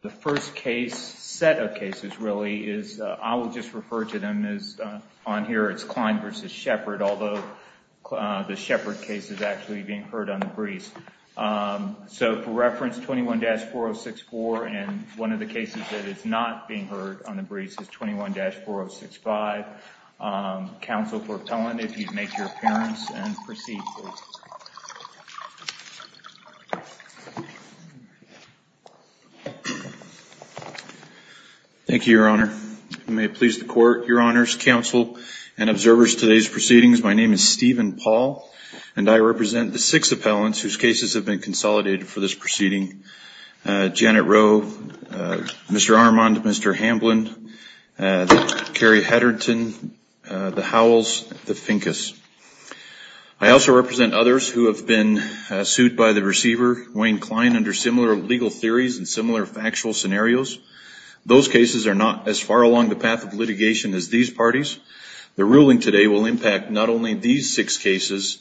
The first case set of cases really is I will just refer to them as on here. It's Klein versus Shepard, although the Shepard case is actually being heard on the breeze. So for reference, 21-4064 and one of the cases that is not being heard on the breeze is 21-4065. Council for appellant, if you'd make your appearance and proceed. Thank you, your honor. May it please the court, your honors, counsel and observers, today's proceedings. My name is Stephen Paul and I represent the six appellants whose cases have been consolidated for this proceeding. Janet Roe, Mr. Armond, Mr. Hamblin, Carrie Hedrington, the Howells, the Finkus. I also represent others who have been sued by the receiver, Wayne Klein, under similar legal theories and similar factual scenarios. Those cases are not as far along the path of litigation as these parties. The ruling today will impact not only these six cases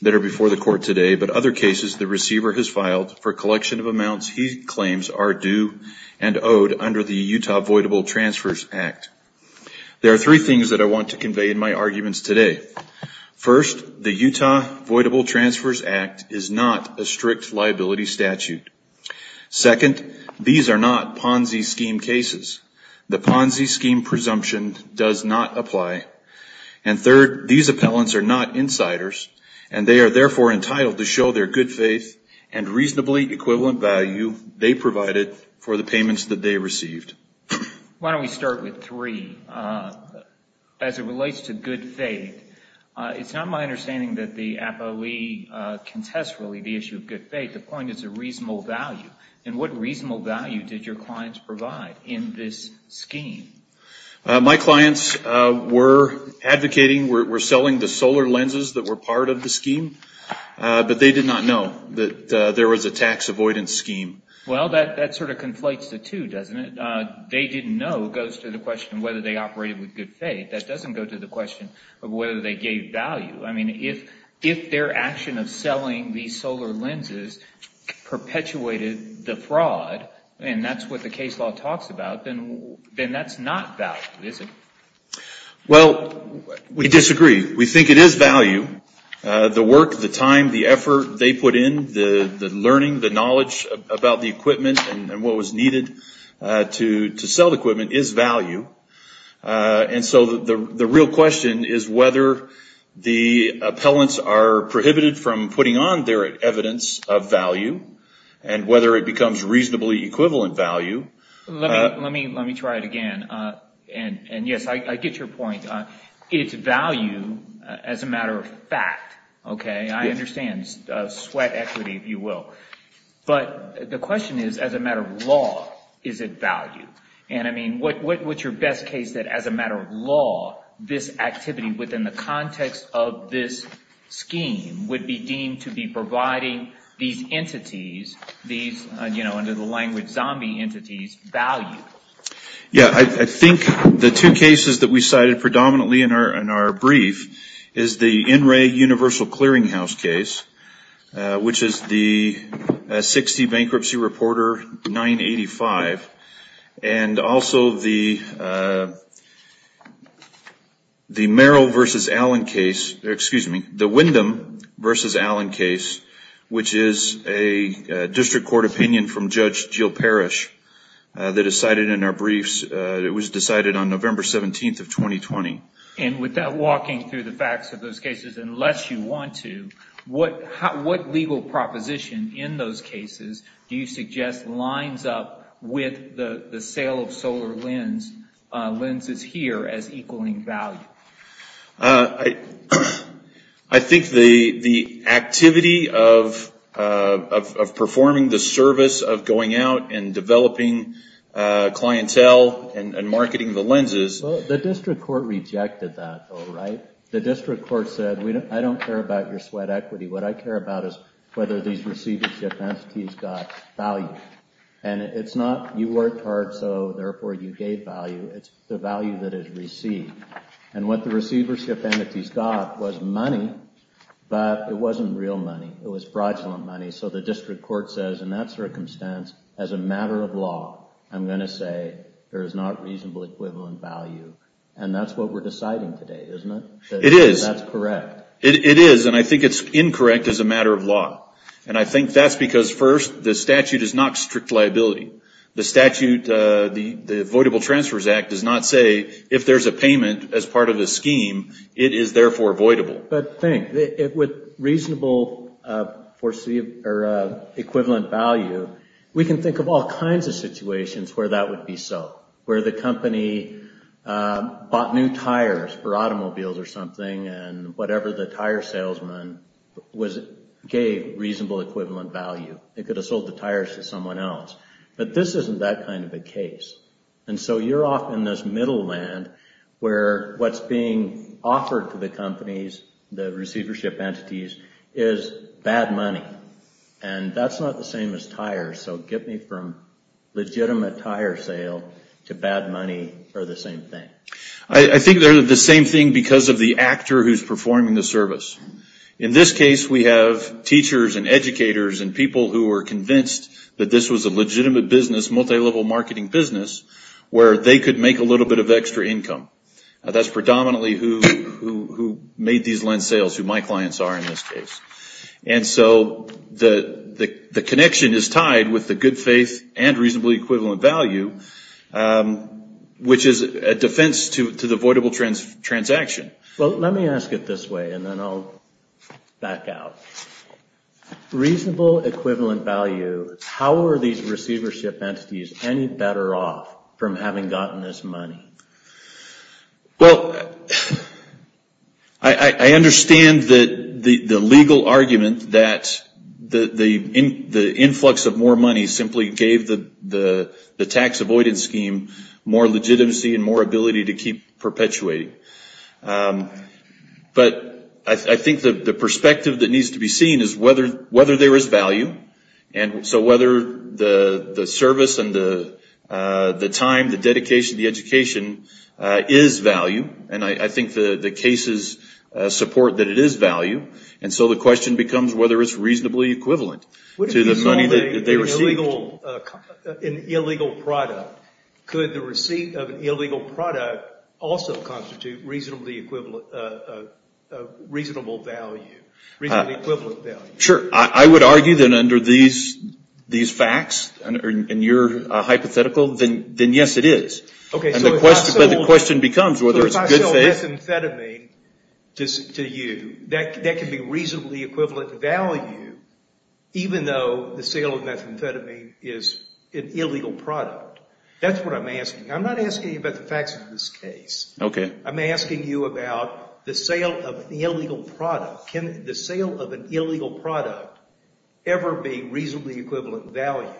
that are before the court today, but other cases the receiver has filed for collection of amounts he claims are due and owed under the Utah Voidable Transfers Act. There are three things that I want to convey in my arguments today. First, the Utah Voidable Transfers Act is not a strict liability statute. Second, these are not Ponzi scheme cases. The Ponzi scheme presumption does not apply. And third, these appellants are not insiders and they are therefore entitled to show their good faith and reasonably equivalent value they provided for the payments that they received. Why don't we start with three? As it relates to good faith, it's not my understanding that the appellee can test really the issue of good faith. The point is a reasonable value. And what reasonable value did your clients provide in this scheme? My clients were advocating, were selling the solar lenses that were part of the scheme, but they did not know that there was a tax avoidance scheme. Well, that sort of conflates the two, doesn't it? They didn't know goes to the question of whether they operated with good faith. That doesn't go to the question of whether they gave value. I mean, if their action of selling these solar lenses perpetuated the fraud, and that's what the case law talks about, then that's not value, is it? Well, we disagree. We think it is value. The work, the time, the effort they put in, the learning, the knowledge about the equipment and what was needed to sell the equipment is value. And so the real question is whether the appellants are prohibited from putting on their evidence of value and whether it becomes reasonably equivalent value. Let me try it again. And yes, I get your point. It's value as a matter of fact, okay? I understand. Sweat equity, if you will. But the question is, as a matter of law, is it value? And I mean, what's your best case that as a matter of law, this activity within the context of this scheme would be deemed to be providing these entities, these, you know, under the language zombie entities, with value? Yeah. I think the two cases that we cited predominantly in our brief is the NREA universal clearinghouse case, which is the 60 bankruptcy reporter 985, and also the Merrill versus Allen case, excuse me, the Wyndham versus Allen case, which is a district court opinion from Judge Jill Parrish. And I think the two cases that we cited are two very different cases. They decided in our briefs, it was decided on November 17th of 2020. And without walking through the facts of those cases, unless you want to, what legal proposition in those cases do you suggest lines up with the sale of solar lenses here as equaling value? I think the activity of performing the service of going out and developing clientele and marketing the lenses. Well, the district court rejected that, though, right? The district court said, I don't care about your sweat equity. What I care about is whether these receivership entities got value. And it's not you worked hard, so therefore you gave value. It's the value that is received. And what the receivership entities got was money, but it wasn't real money. It was fraudulent money. So the district court says, in that circumstance, as a matter of law, I'm going to say there is not reasonable equivalent value. And that's what we're deciding today, isn't it? It is. That's correct. It is. And I think it's incorrect as a matter of law. And I think that's because, first, the statute is not strict liability. The statute, the Voidable Transfers Act does not say if there's a payment as part of the scheme, it is therefore voidable. But think, with reasonable equivalent value, we can think of all kinds of situations where that would be so. Where the company bought new tires for automobiles or something, and whatever the tire salesman gave reasonable equivalent value. It could have sold the tires to someone else. But this isn't that kind of a case. And so you're off in this middle land where what's being offered to the companies, the receivership entities, is bad money. And that's not the same as tires. So get me from legitimate tire sale to bad money are the same thing. I think they're the same thing because of the actor who's performing the service. In this case, we have teachers and educators and people who are convinced that this was a legitimate business, multi-level marketing business, where they could make a little bit of extra income. That's predominantly who made these lens sales, who my clients are in this case. And so the connection is tied with the good faith and reasonable equivalent value, which is a defense to the voidable transaction. Well, let me ask it this way, and then I'll back out. Reasonable equivalent value, how are these receivership entities any better off from having gotten this money? Well, I understand the legal argument that the influx of more money simply gave the tax avoidance scheme more legitimacy and more ability to keep perpetuating. But I think the perspective that needs to be seen is whether there is value. And so whether the service and the time, the dedication, the education is value, and I think the cases support that it is value. And so the question becomes whether it's reasonably equivalent to the money that they received. An illegal product, could the receipt of an illegal product also constitute reasonable value, reasonable equivalent value? Sure. I would argue that under these facts, and you're hypothetical, then yes, it is. But the question becomes whether it's good faith. So if I sell methamphetamine to you, that could be reasonably equivalent value, even though the sale of methamphetamine is an illegal product. That's what I'm asking. I'm not asking you about the facts of this case. Okay. I'm asking you about the sale of an illegal product. Can the sale of an illegal product ever be reasonably equivalent value?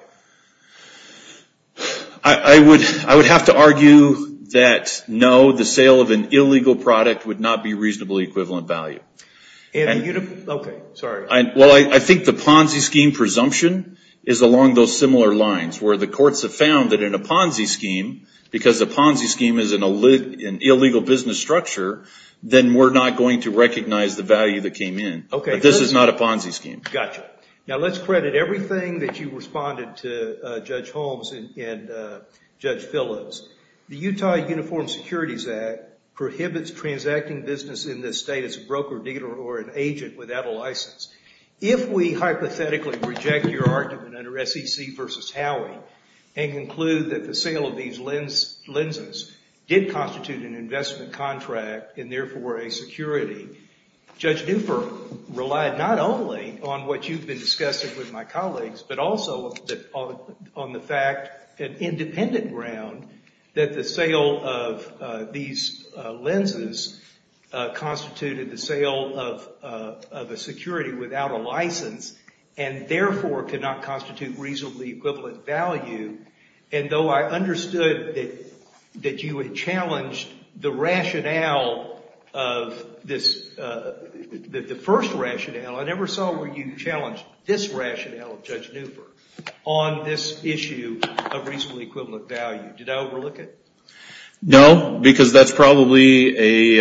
I would have to argue that no, the sale of an illegal product would not be reasonably equivalent value. Okay. Sorry. Well, I think the Ponzi scheme presumption is along those similar lines, where the courts have found that in a Ponzi scheme, because the Ponzi scheme is an illegal business structure, then we're not going to recognize the value that came in. Okay. But this is not a Ponzi scheme. Gotcha. Now, let's credit everything that you responded to, Judge Holmes and Judge Phillips. The Utah Uniform Securities Act prohibits transacting business in this state as a broker, dealer, or an agent without a license. If we hypothetically reject your argument under SEC v. Howey and conclude that the sale of these lenses did constitute an investment contract and therefore a security, Judge Newford relied not only on what you've been discussing with my colleagues, but also on the fact, on independent ground, that the sale of these lenses constituted the sale of a security without a license and therefore could not constitute reasonably equivalent value. And though I understood that you had challenged the rationale of this, the first rationale, I never saw where you challenged this rationale of Judge Newford on this issue of reasonably equivalent value. Did I overlook it? No, because that's probably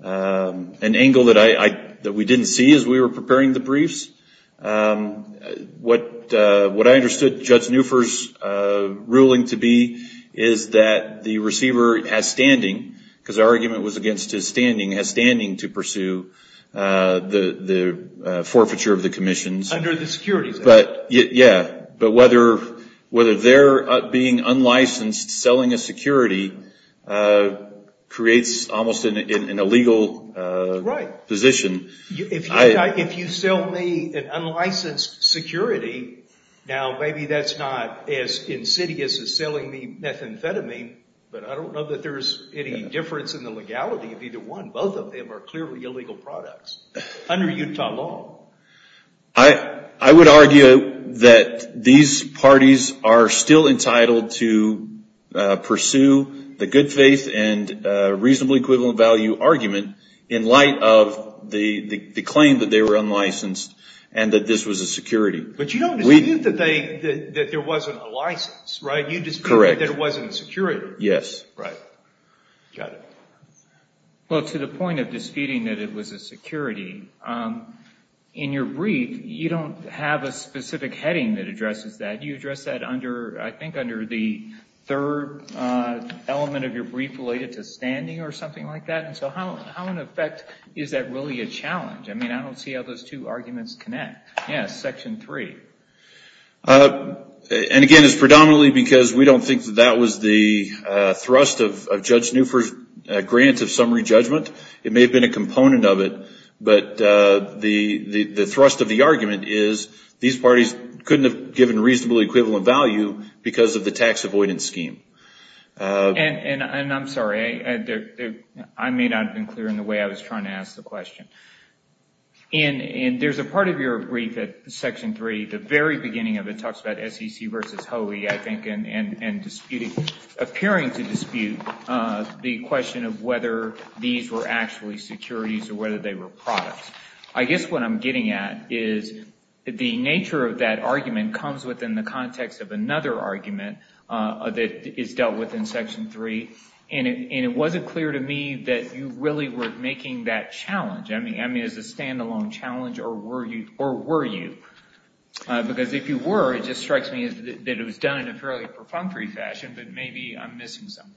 an angle that we didn't see as we were preparing the briefs. What I understood Judge Newford's ruling to be is that the receiver has standing, because our argument was against his standing, has standing to pursue the forfeiture of the commissions. Under the securities act? Yeah, but whether their being unlicensed, selling a security, creates almost an illegal position. If you sell me an unlicensed security, now maybe that's not as insidious as selling me methamphetamine, but I don't know that there's any difference in the legality of either one. Both of them are clearly illegal products under Utah law. I would argue that these parties are still entitled to pursue the good faith and reasonably equivalent value argument in light of the claim that they were unlicensed and that this was a security. But you don't dispute that there wasn't a license, right? Correct. You dispute that there wasn't a security. Yes. Right. Got it. Well, to the point of disputing that it was a security, in your brief you don't have a specific heading that addresses that. You address that, I think, under the third element of your brief related to standing or something like that. How, in effect, is that really a challenge? I don't see how those two arguments connect. Yes, section three. Again, it's predominantly because we don't think that that was the thrust of Judge Newford's grant of summary judgment. It may have been a component of it, but the thrust of the argument is these parties couldn't have given reasonable equivalent value because of the tax avoidance scheme. And I'm sorry, I may not have been clear in the way I was trying to ask the question. And there's a part of your brief at section three, the very beginning of it, talks about SEC versus HOE, I think, and appearing to dispute the question of whether these were actually securities or whether they were products. I guess what I'm getting at is the nature of that argument comes within the context of another argument that is dealt with in section three, and it wasn't clear to me that you really were making that challenge. I mean, is it a standalone challenge, or were you? Because if you were, it just strikes me that it was done in a fairly perfunctory fashion, but maybe I'm missing something.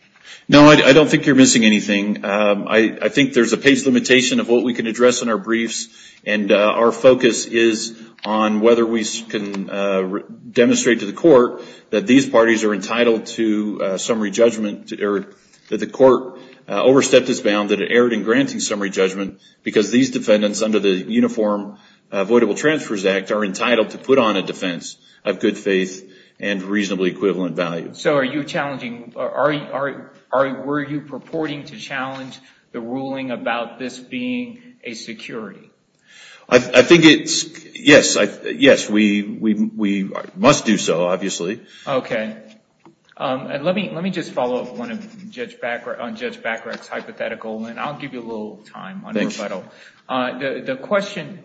No, I don't think you're missing anything. I think there's a page limitation of what we can address in our briefs, and our focus is on whether we can demonstrate to the court that these parties are entitled to summary judgment, that the court overstepped its bound, that it erred in granting summary judgment, because these defendants under the Uniform Avoidable Transfers Act are entitled to put on a defense of good faith and reasonably equivalent value. So were you purporting to challenge the ruling about this being a security? Yes, we must do so, obviously. Okay. Let me just follow up on Judge Bacharach's hypothetical, and I'll give you a little time on rebuttal. The question,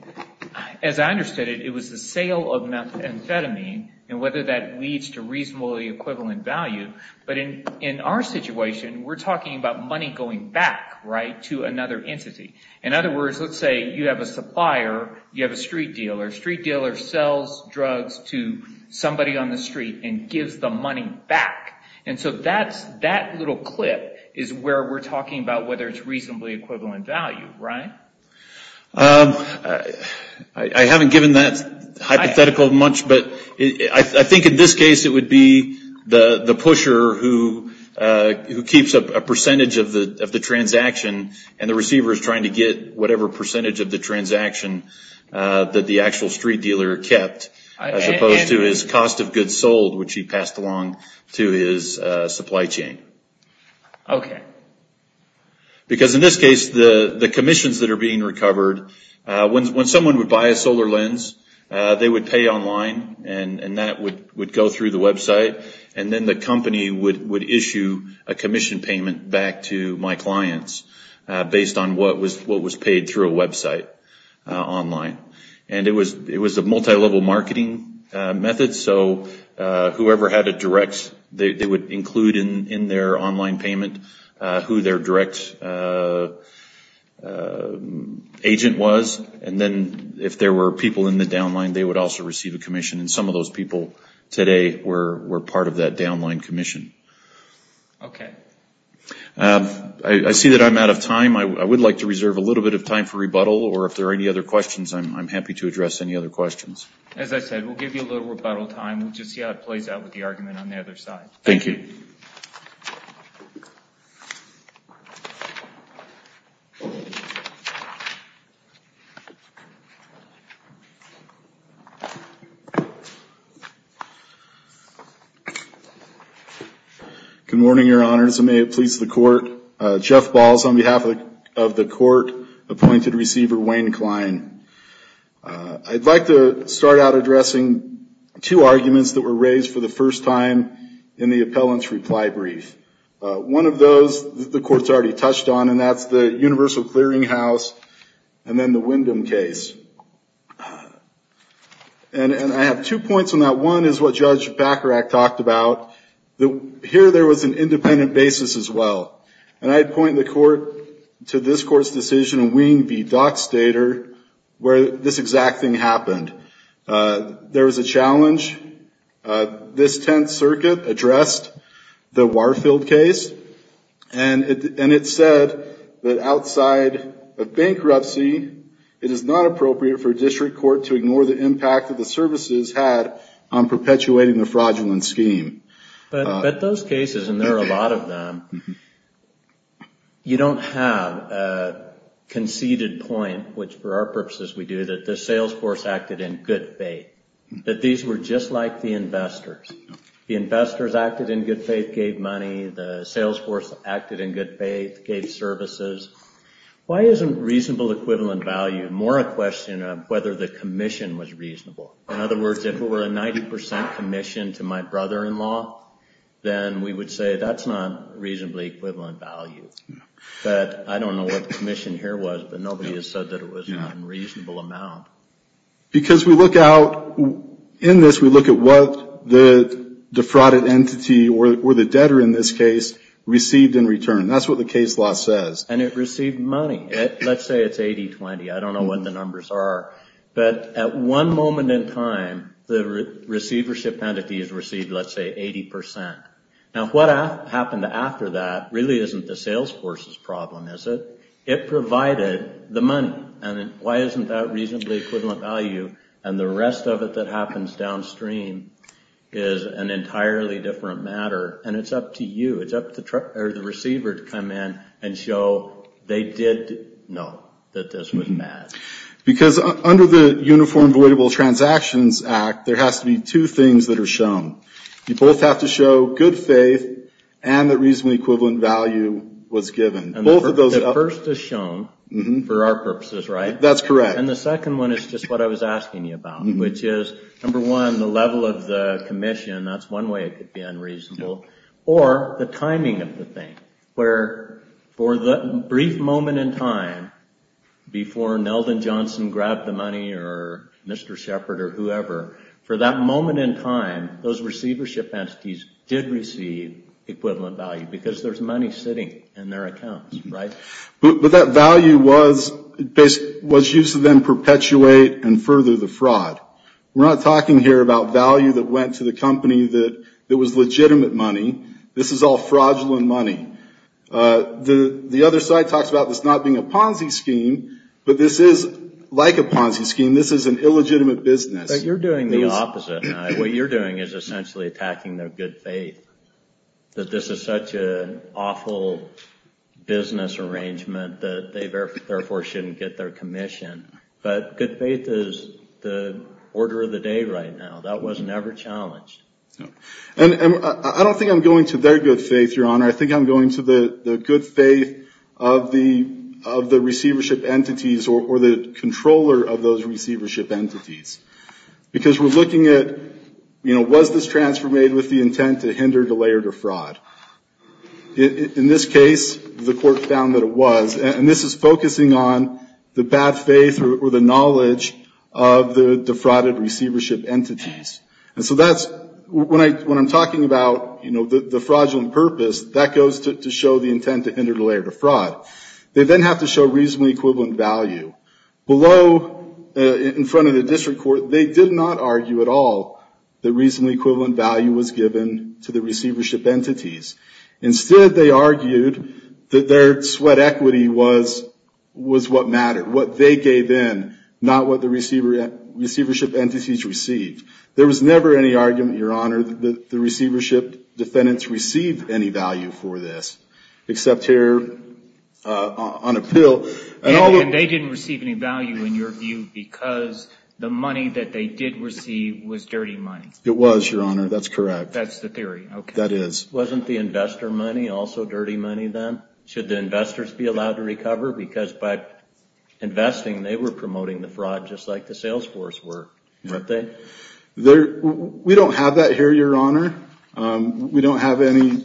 as I understood it, it was the sale of methamphetamine and whether that leads to reasonably equivalent value. But in our situation, we're talking about money going back, right, to another entity. In other words, let's say you have a supplier, you have a street dealer. A street dealer sells drugs to somebody on the street and gives the money back. And so that little clip is where we're talking about whether it's reasonably equivalent value, right? I haven't given that hypothetical much, but I think in this case it would be the pusher who keeps a percentage of the transaction and the receiver is trying to get whatever percentage of the transaction that the actual street dealer kept, as opposed to his cost of goods sold, which he passed along to his supply chain. Okay. Because in this case, the commissions that are being recovered, when someone would buy a solar lens, they would pay online and that would go through the website, and then the company would issue a commission payment back to my clients based on what was paid through a website online. And it was a multi-level marketing method, so whoever had a direct, they would include in their online payment who their direct agent was, and then if there were people in the downline, they would also receive a commission. And some of those people today were part of that downline commission. Okay. I see that I'm out of time. I would like to reserve a little bit of time for rebuttal, or if there are any other questions, I'm happy to address any other questions. As I said, we'll give you a little rebuttal time. We'll just see how it plays out with the argument on the other side. Thank you. Good morning, Your Honors, and may it please the Court. Jeff Balls on behalf of the Court, appointed receiver Wayne Klein. I'd like to start out addressing two arguments that were raised for the first time in the appellant's reply brief. One of those the Court's already touched on, and that's the Universal Clearinghouse and then the Wyndham case. And I have two points on that. One is what Judge Bacharach talked about. Here there was an independent basis as well. And I'd point the Court to this Court's decision in Wing v. Dockstader where this exact thing happened. There was a challenge. This Tenth Circuit addressed the Warfield case, and it said that outside of bankruptcy, it is not appropriate for a district court to ignore the impact that the services had on perpetuating the fraudulent scheme. But those cases, and there are a lot of them, you don't have a conceded point, which for our purposes we do, that the sales force acted in good faith, that these were just like the investors. The investors acted in good faith, gave money. The sales force acted in good faith, gave services. Why isn't reasonable equivalent value more a question of whether the commission was reasonable? In other words, if it were a 90 percent commission to my brother-in-law, then we would say that's not reasonably equivalent value. But I don't know what the commission here was, but nobody has said that it was an unreasonable amount. Because we look out in this, we look at what the defrauded entity, or the debtor in this case, received in return. That's what the case law says. And it received money. Let's say it's 80-20. I don't know what the numbers are. But at one moment in time, the receivership entity has received, let's say, 80 percent. Now what happened after that really isn't the sales force's problem, is it? It provided the money. And why isn't that reasonably equivalent value? And the rest of it that happens downstream is an entirely different matter. And it's up to you. It's up to the receiver to come in and show they did know that this was bad. Because under the Uniform Voidable Transactions Act, there has to be two things that are shown. You both have to show good faith and that reasonably equivalent value was given. The first is shown for our purposes, right? That's correct. And the second one is just what I was asking you about, which is, number one, the level of the commission. And that's one way it could be unreasonable. Or the timing of the thing, where for the brief moment in time before Neldon Johnson grabbed the money or Mr. Shepard or whoever, for that moment in time, those receivership entities did receive equivalent value because there's money sitting in their accounts, right? But that value was used to then perpetuate and further the fraud. We're not talking here about value that went to the company that was legitimate money. This is all fraudulent money. The other side talks about this not being a Ponzi scheme, but this is like a Ponzi scheme. This is an illegitimate business. But you're doing the opposite. What you're doing is essentially attacking their good faith, that this is such an awful business arrangement that they therefore shouldn't get their commission. But good faith is the order of the day right now. That was never challenged. And I don't think I'm going to their good faith, Your Honor. I think I'm going to the good faith of the receivership entities or the controller of those receivership entities. Because we're looking at, you know, was this transfer made with the intent to hinder, delay, or defraud? In this case, the court found that it was. And this is focusing on the bad faith or the knowledge of the defrauded receivership entities. And so that's when I'm talking about, you know, the fraudulent purpose, that goes to show the intent to hinder, delay, or defraud. They then have to show reasonably equivalent value. Below, in front of the district court, they did not argue at all that reasonably equivalent value was given to the receivership entities. Instead, they argued that their sweat equity was what mattered, what they gave in, not what the receivership entities received. There was never any argument, Your Honor, that the receivership defendants received any value for this, except here on appeal. And they didn't receive any value, in your view, because the money that they did receive was dirty money. It was, Your Honor. That's correct. That's the theory. That is. Wasn't the investor money also dirty money, then? Should the investors be allowed to recover? Because by investing, they were promoting the fraud, just like the sales force were, weren't they? We don't have that here, Your Honor. We don't have any.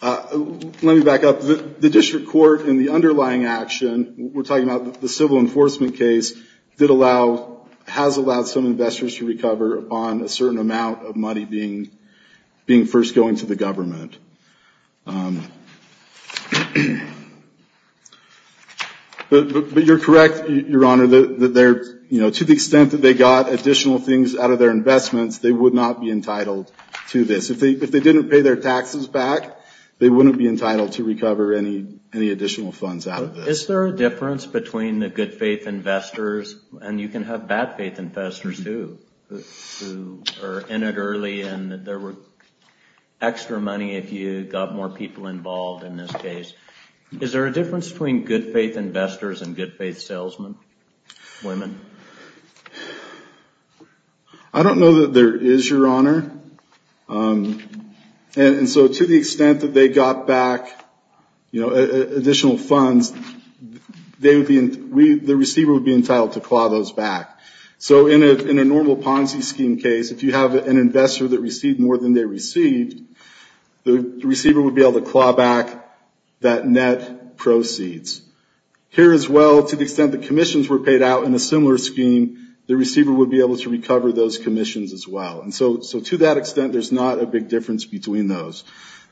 Let me back up. The district court, in the underlying action, we're talking about the civil enforcement case, has allowed some investors to recover on a certain amount of money being first going to the government. But you're correct, Your Honor, that to the extent that they got additional things out of their investments, they would not be entitled to this. If they didn't pay their taxes back, they wouldn't be entitled to recover any additional funds out of this. Is there a difference between the good-faith investors, and you can have bad-faith investors, too, who are in it early and there were extra money if you got more people involved in this case. Is there a difference between good-faith investors and good-faith salesmen, women? I don't know that there is, Your Honor. And so to the extent that they got back additional funds, the receiver would be entitled to claw those back. So in a normal Ponzi scheme case, if you have an investor that received more than they received, the receiver would be able to claw back that net proceeds. Here as well, to the extent that commissions were paid out in a similar scheme, the receiver would be able to recover those commissions as well. So to that extent, there's not a big difference between those.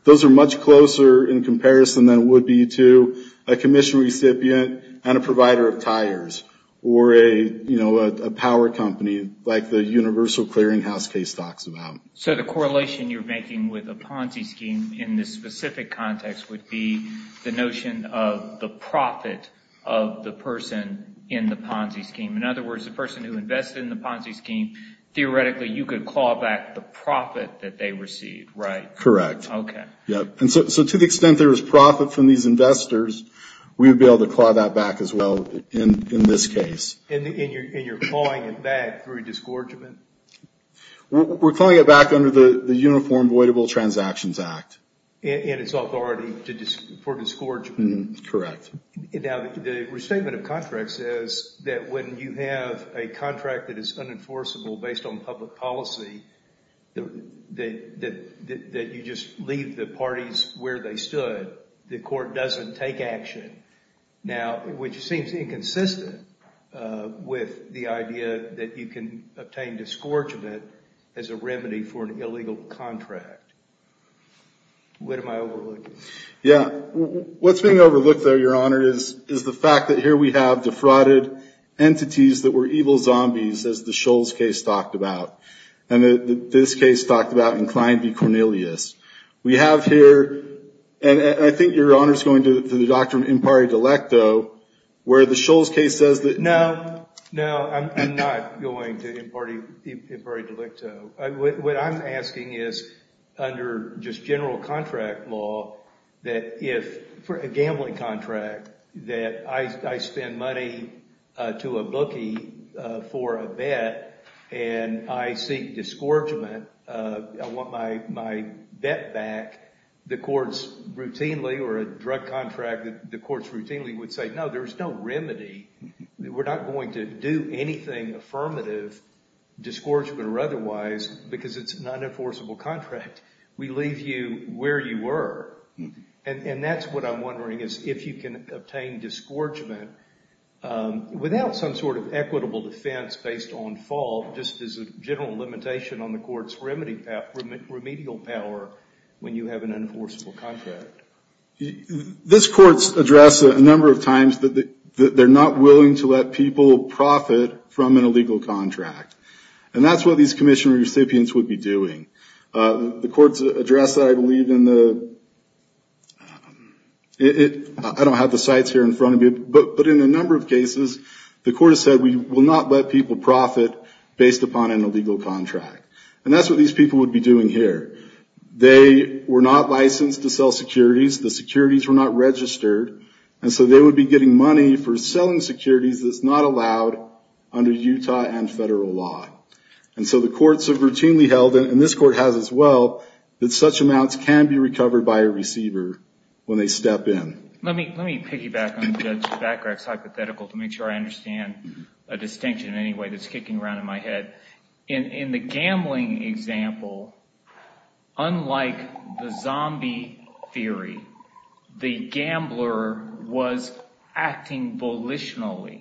Those are much closer in comparison than it would be to a commission recipient and a provider of tires, or a power company like the Universal Clearinghouse case talks about. So the correlation you're making with a Ponzi scheme in this specific context would be the notion of the profit of the person in the Ponzi scheme. In other words, the person who invested in the Ponzi scheme, theoretically, you could claw back the profit that they received, right? Correct. Okay. And so to the extent there is profit from these investors, we would be able to claw that back as well in this case. And you're clawing it back through disgorgement? We're clawing it back under the Uniform Voidable Transactions Act. And its authority for disgorgement? Correct. Now, the restatement of contract says that when you have a contract that is unenforceable based on public policy, that you just leave the parties where they stood, the court doesn't take action. Now, which seems inconsistent with the idea that you can obtain disgorgement as a remedy for an illegal contract. What am I overlooking? Yeah. What's being overlooked, though, Your Honor, is the fact that here we have defrauded entities that were evil zombies, as the Shulls case talked about. And this case talked about inclined to be Cornelius. We have here, and I think Your Honor is going to the doctrine impari delicto, where the Shulls case says that- No. No, I'm not going to impari delicto. What I'm asking is, under just general contract law, that if for a gambling contract, that I spend money to a bookie for a bet, and I seek disgorgement, I want my bet back, the courts routinely, or a drug contract, the courts routinely would say, no, there's no remedy. We're not going to do anything affirmative, disgorgement or otherwise, because it's an unenforceable contract. We leave you where you were. And that's what I'm wondering, is if you can obtain disgorgement without some sort of equitable defense based on fault, just as a general limitation on the court's remedial power when you have an unenforceable contract. This court's addressed a number of times that they're not willing to let people profit from an illegal contract. And that's what these commission recipients would be doing. The court's addressed that, I believe, in the- I don't have the sites here in front of me, but in a number of cases, the court has said, we will not let people profit based upon an illegal contract. And that's what these people would be doing here. They were not licensed to sell securities. The securities were not registered. And so they would be getting money for selling securities that's not allowed under Utah and federal law. And so the courts have routinely held, and this court has as well, that such amounts can be recovered by a receiver when they step in. Let me piggyback on Judge Bacharach's hypothetical to make sure I understand a distinction in any way that's kicking around in my head. In the gambling example, unlike the zombie theory, the gambler was acting volitionally.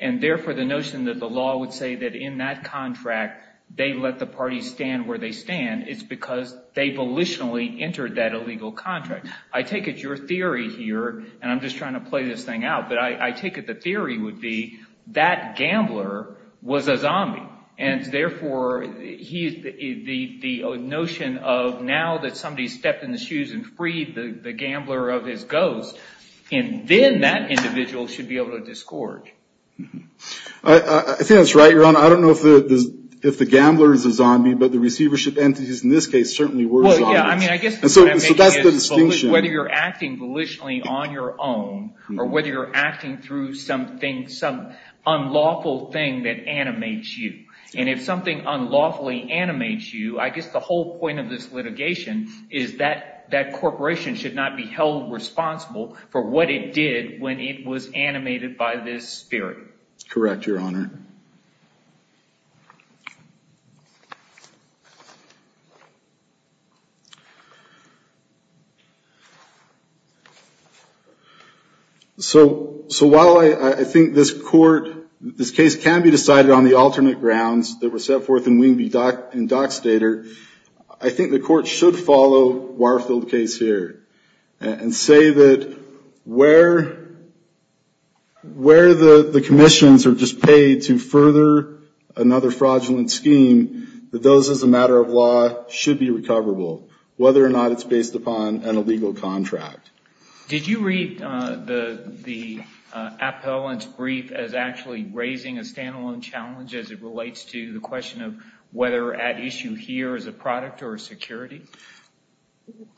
And therefore, the notion that the law would say that in that contract, they let the party stand where they stand, it's because they volitionally entered that illegal contract. I take it your theory here, and I'm just trying to play this thing out, but I take it the theory would be that gambler was a zombie. And therefore, the notion of now that somebody stepped in the shoes and freed the gambler of his ghost, and then that individual should be able to discord. I think that's right, Your Honor. I don't know if the gambler is a zombie, but the receivership entities in this case certainly were zombies. So that's the distinction. Whether you're acting volitionally on your own or whether you're acting through something, some unlawful thing that animates you. And if something unlawfully animates you, I guess the whole point of this litigation is that that corporation should not be held responsible for what it did when it was animated by this theory. Correct, Your Honor. So while I think this court, this case can be decided on the alternate grounds that were set forth in Wing v. Dockstader, I think the court should follow Warfield's case here and say that where the commissions are just paid to further another fraudulent scheme, that those as a matter of law should be recoverable. Whether or not it's based upon an illegal contract. Did you read the appellant's brief as actually raising a stand-alone challenge as it relates to the question of whether at issue here is a product or a security?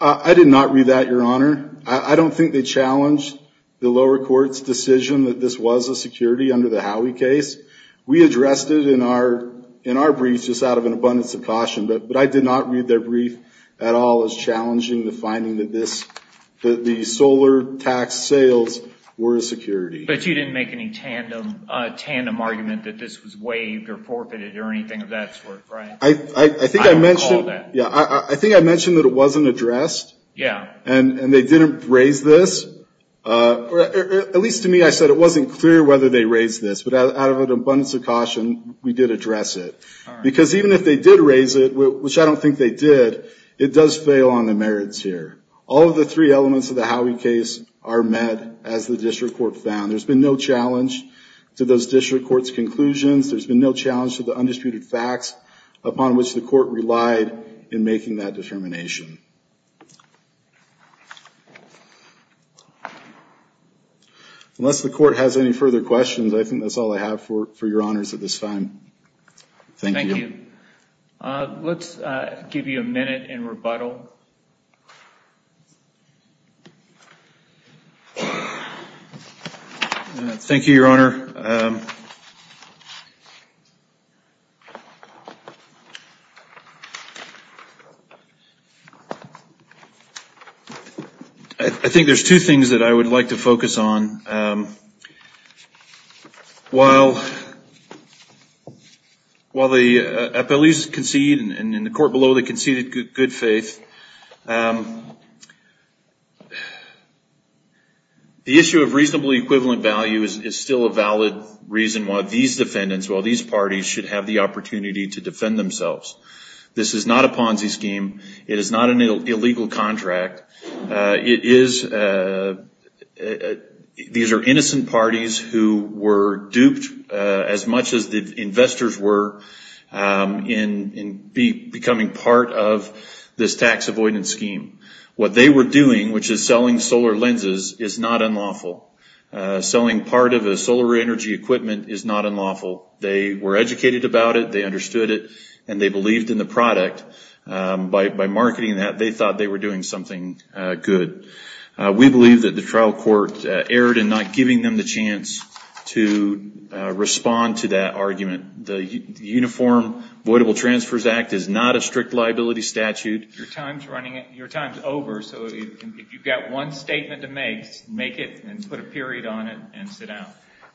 I did not read that, Your Honor. I don't think they challenged the lower court's decision that this was a security under the Howey case. We addressed it in our briefs just out of an abundance of caution, but I did not read their brief at all as challenging the finding that the solar tax sales were a security. But you didn't make any tandem argument that this was waived or forfeited or anything of that sort, right? I think I mentioned that it wasn't addressed. Yeah. And they didn't raise this. At least to me, I said it wasn't clear whether they raised this, but out of an abundance of caution, we did address it. Because even if they did raise it, which I don't think they did, it does fail on the merits here. All of the three elements of the Howey case are met as the district court found. There's been no challenge to those district courts' conclusions. There's been no challenge to the undisputed facts upon which the court relied in making that determination. Unless the court has any further questions, I think that's all I have for your honors at this time. Thank you. Thank you. Let's give you a minute in rebuttal. Thank you, Your Honor. Thank you, Your Honor. I think there's two things that I would like to focus on. While the appellees concede, and in the court below they conceded good faith, the issue of reasonably equivalent value is still a valid reason why these defendants, why these parties should have the opportunity to defend themselves. This is not a Ponzi scheme. It is not an illegal contract. These are innocent parties who were duped, as much as the investors were, in becoming part of this tax avoidance scheme. What they were doing, which is selling solar lenses, is not unlawful. Selling part of the solar energy equipment is not unlawful. They were educated about it, they understood it, and they believed in the product. By marketing that, they thought they were doing something good. We believe that the trial court erred in not giving them the chance to respond to that argument. The Uniform Voidable Transfers Act is not a strict liability statute. Your time is over, so if you've got one statement to make, make it, and put a period on it, and sit down.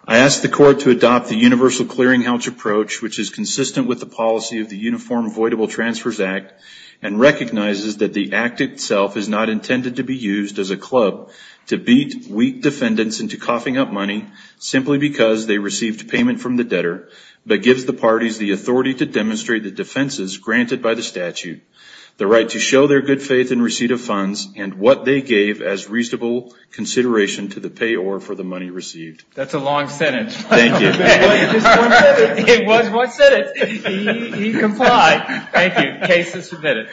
I ask the court to adopt the universal clearinghouse approach, which is consistent with the policy of the Uniform Voidable Transfers Act, and recognizes that the act itself is not intended to be used as a club to beat weak defendants into coughing up money simply because they received payment from the debtor, but gives the parties the authority to demonstrate the defenses granted by the statute, the right to show their good faith in receipt of funds, and what they gave as reasonable consideration to the payor for the money received. That's a long sentence. Thank you. It was one sentence. It was one sentence. He complied. Thank you. Case is submitted.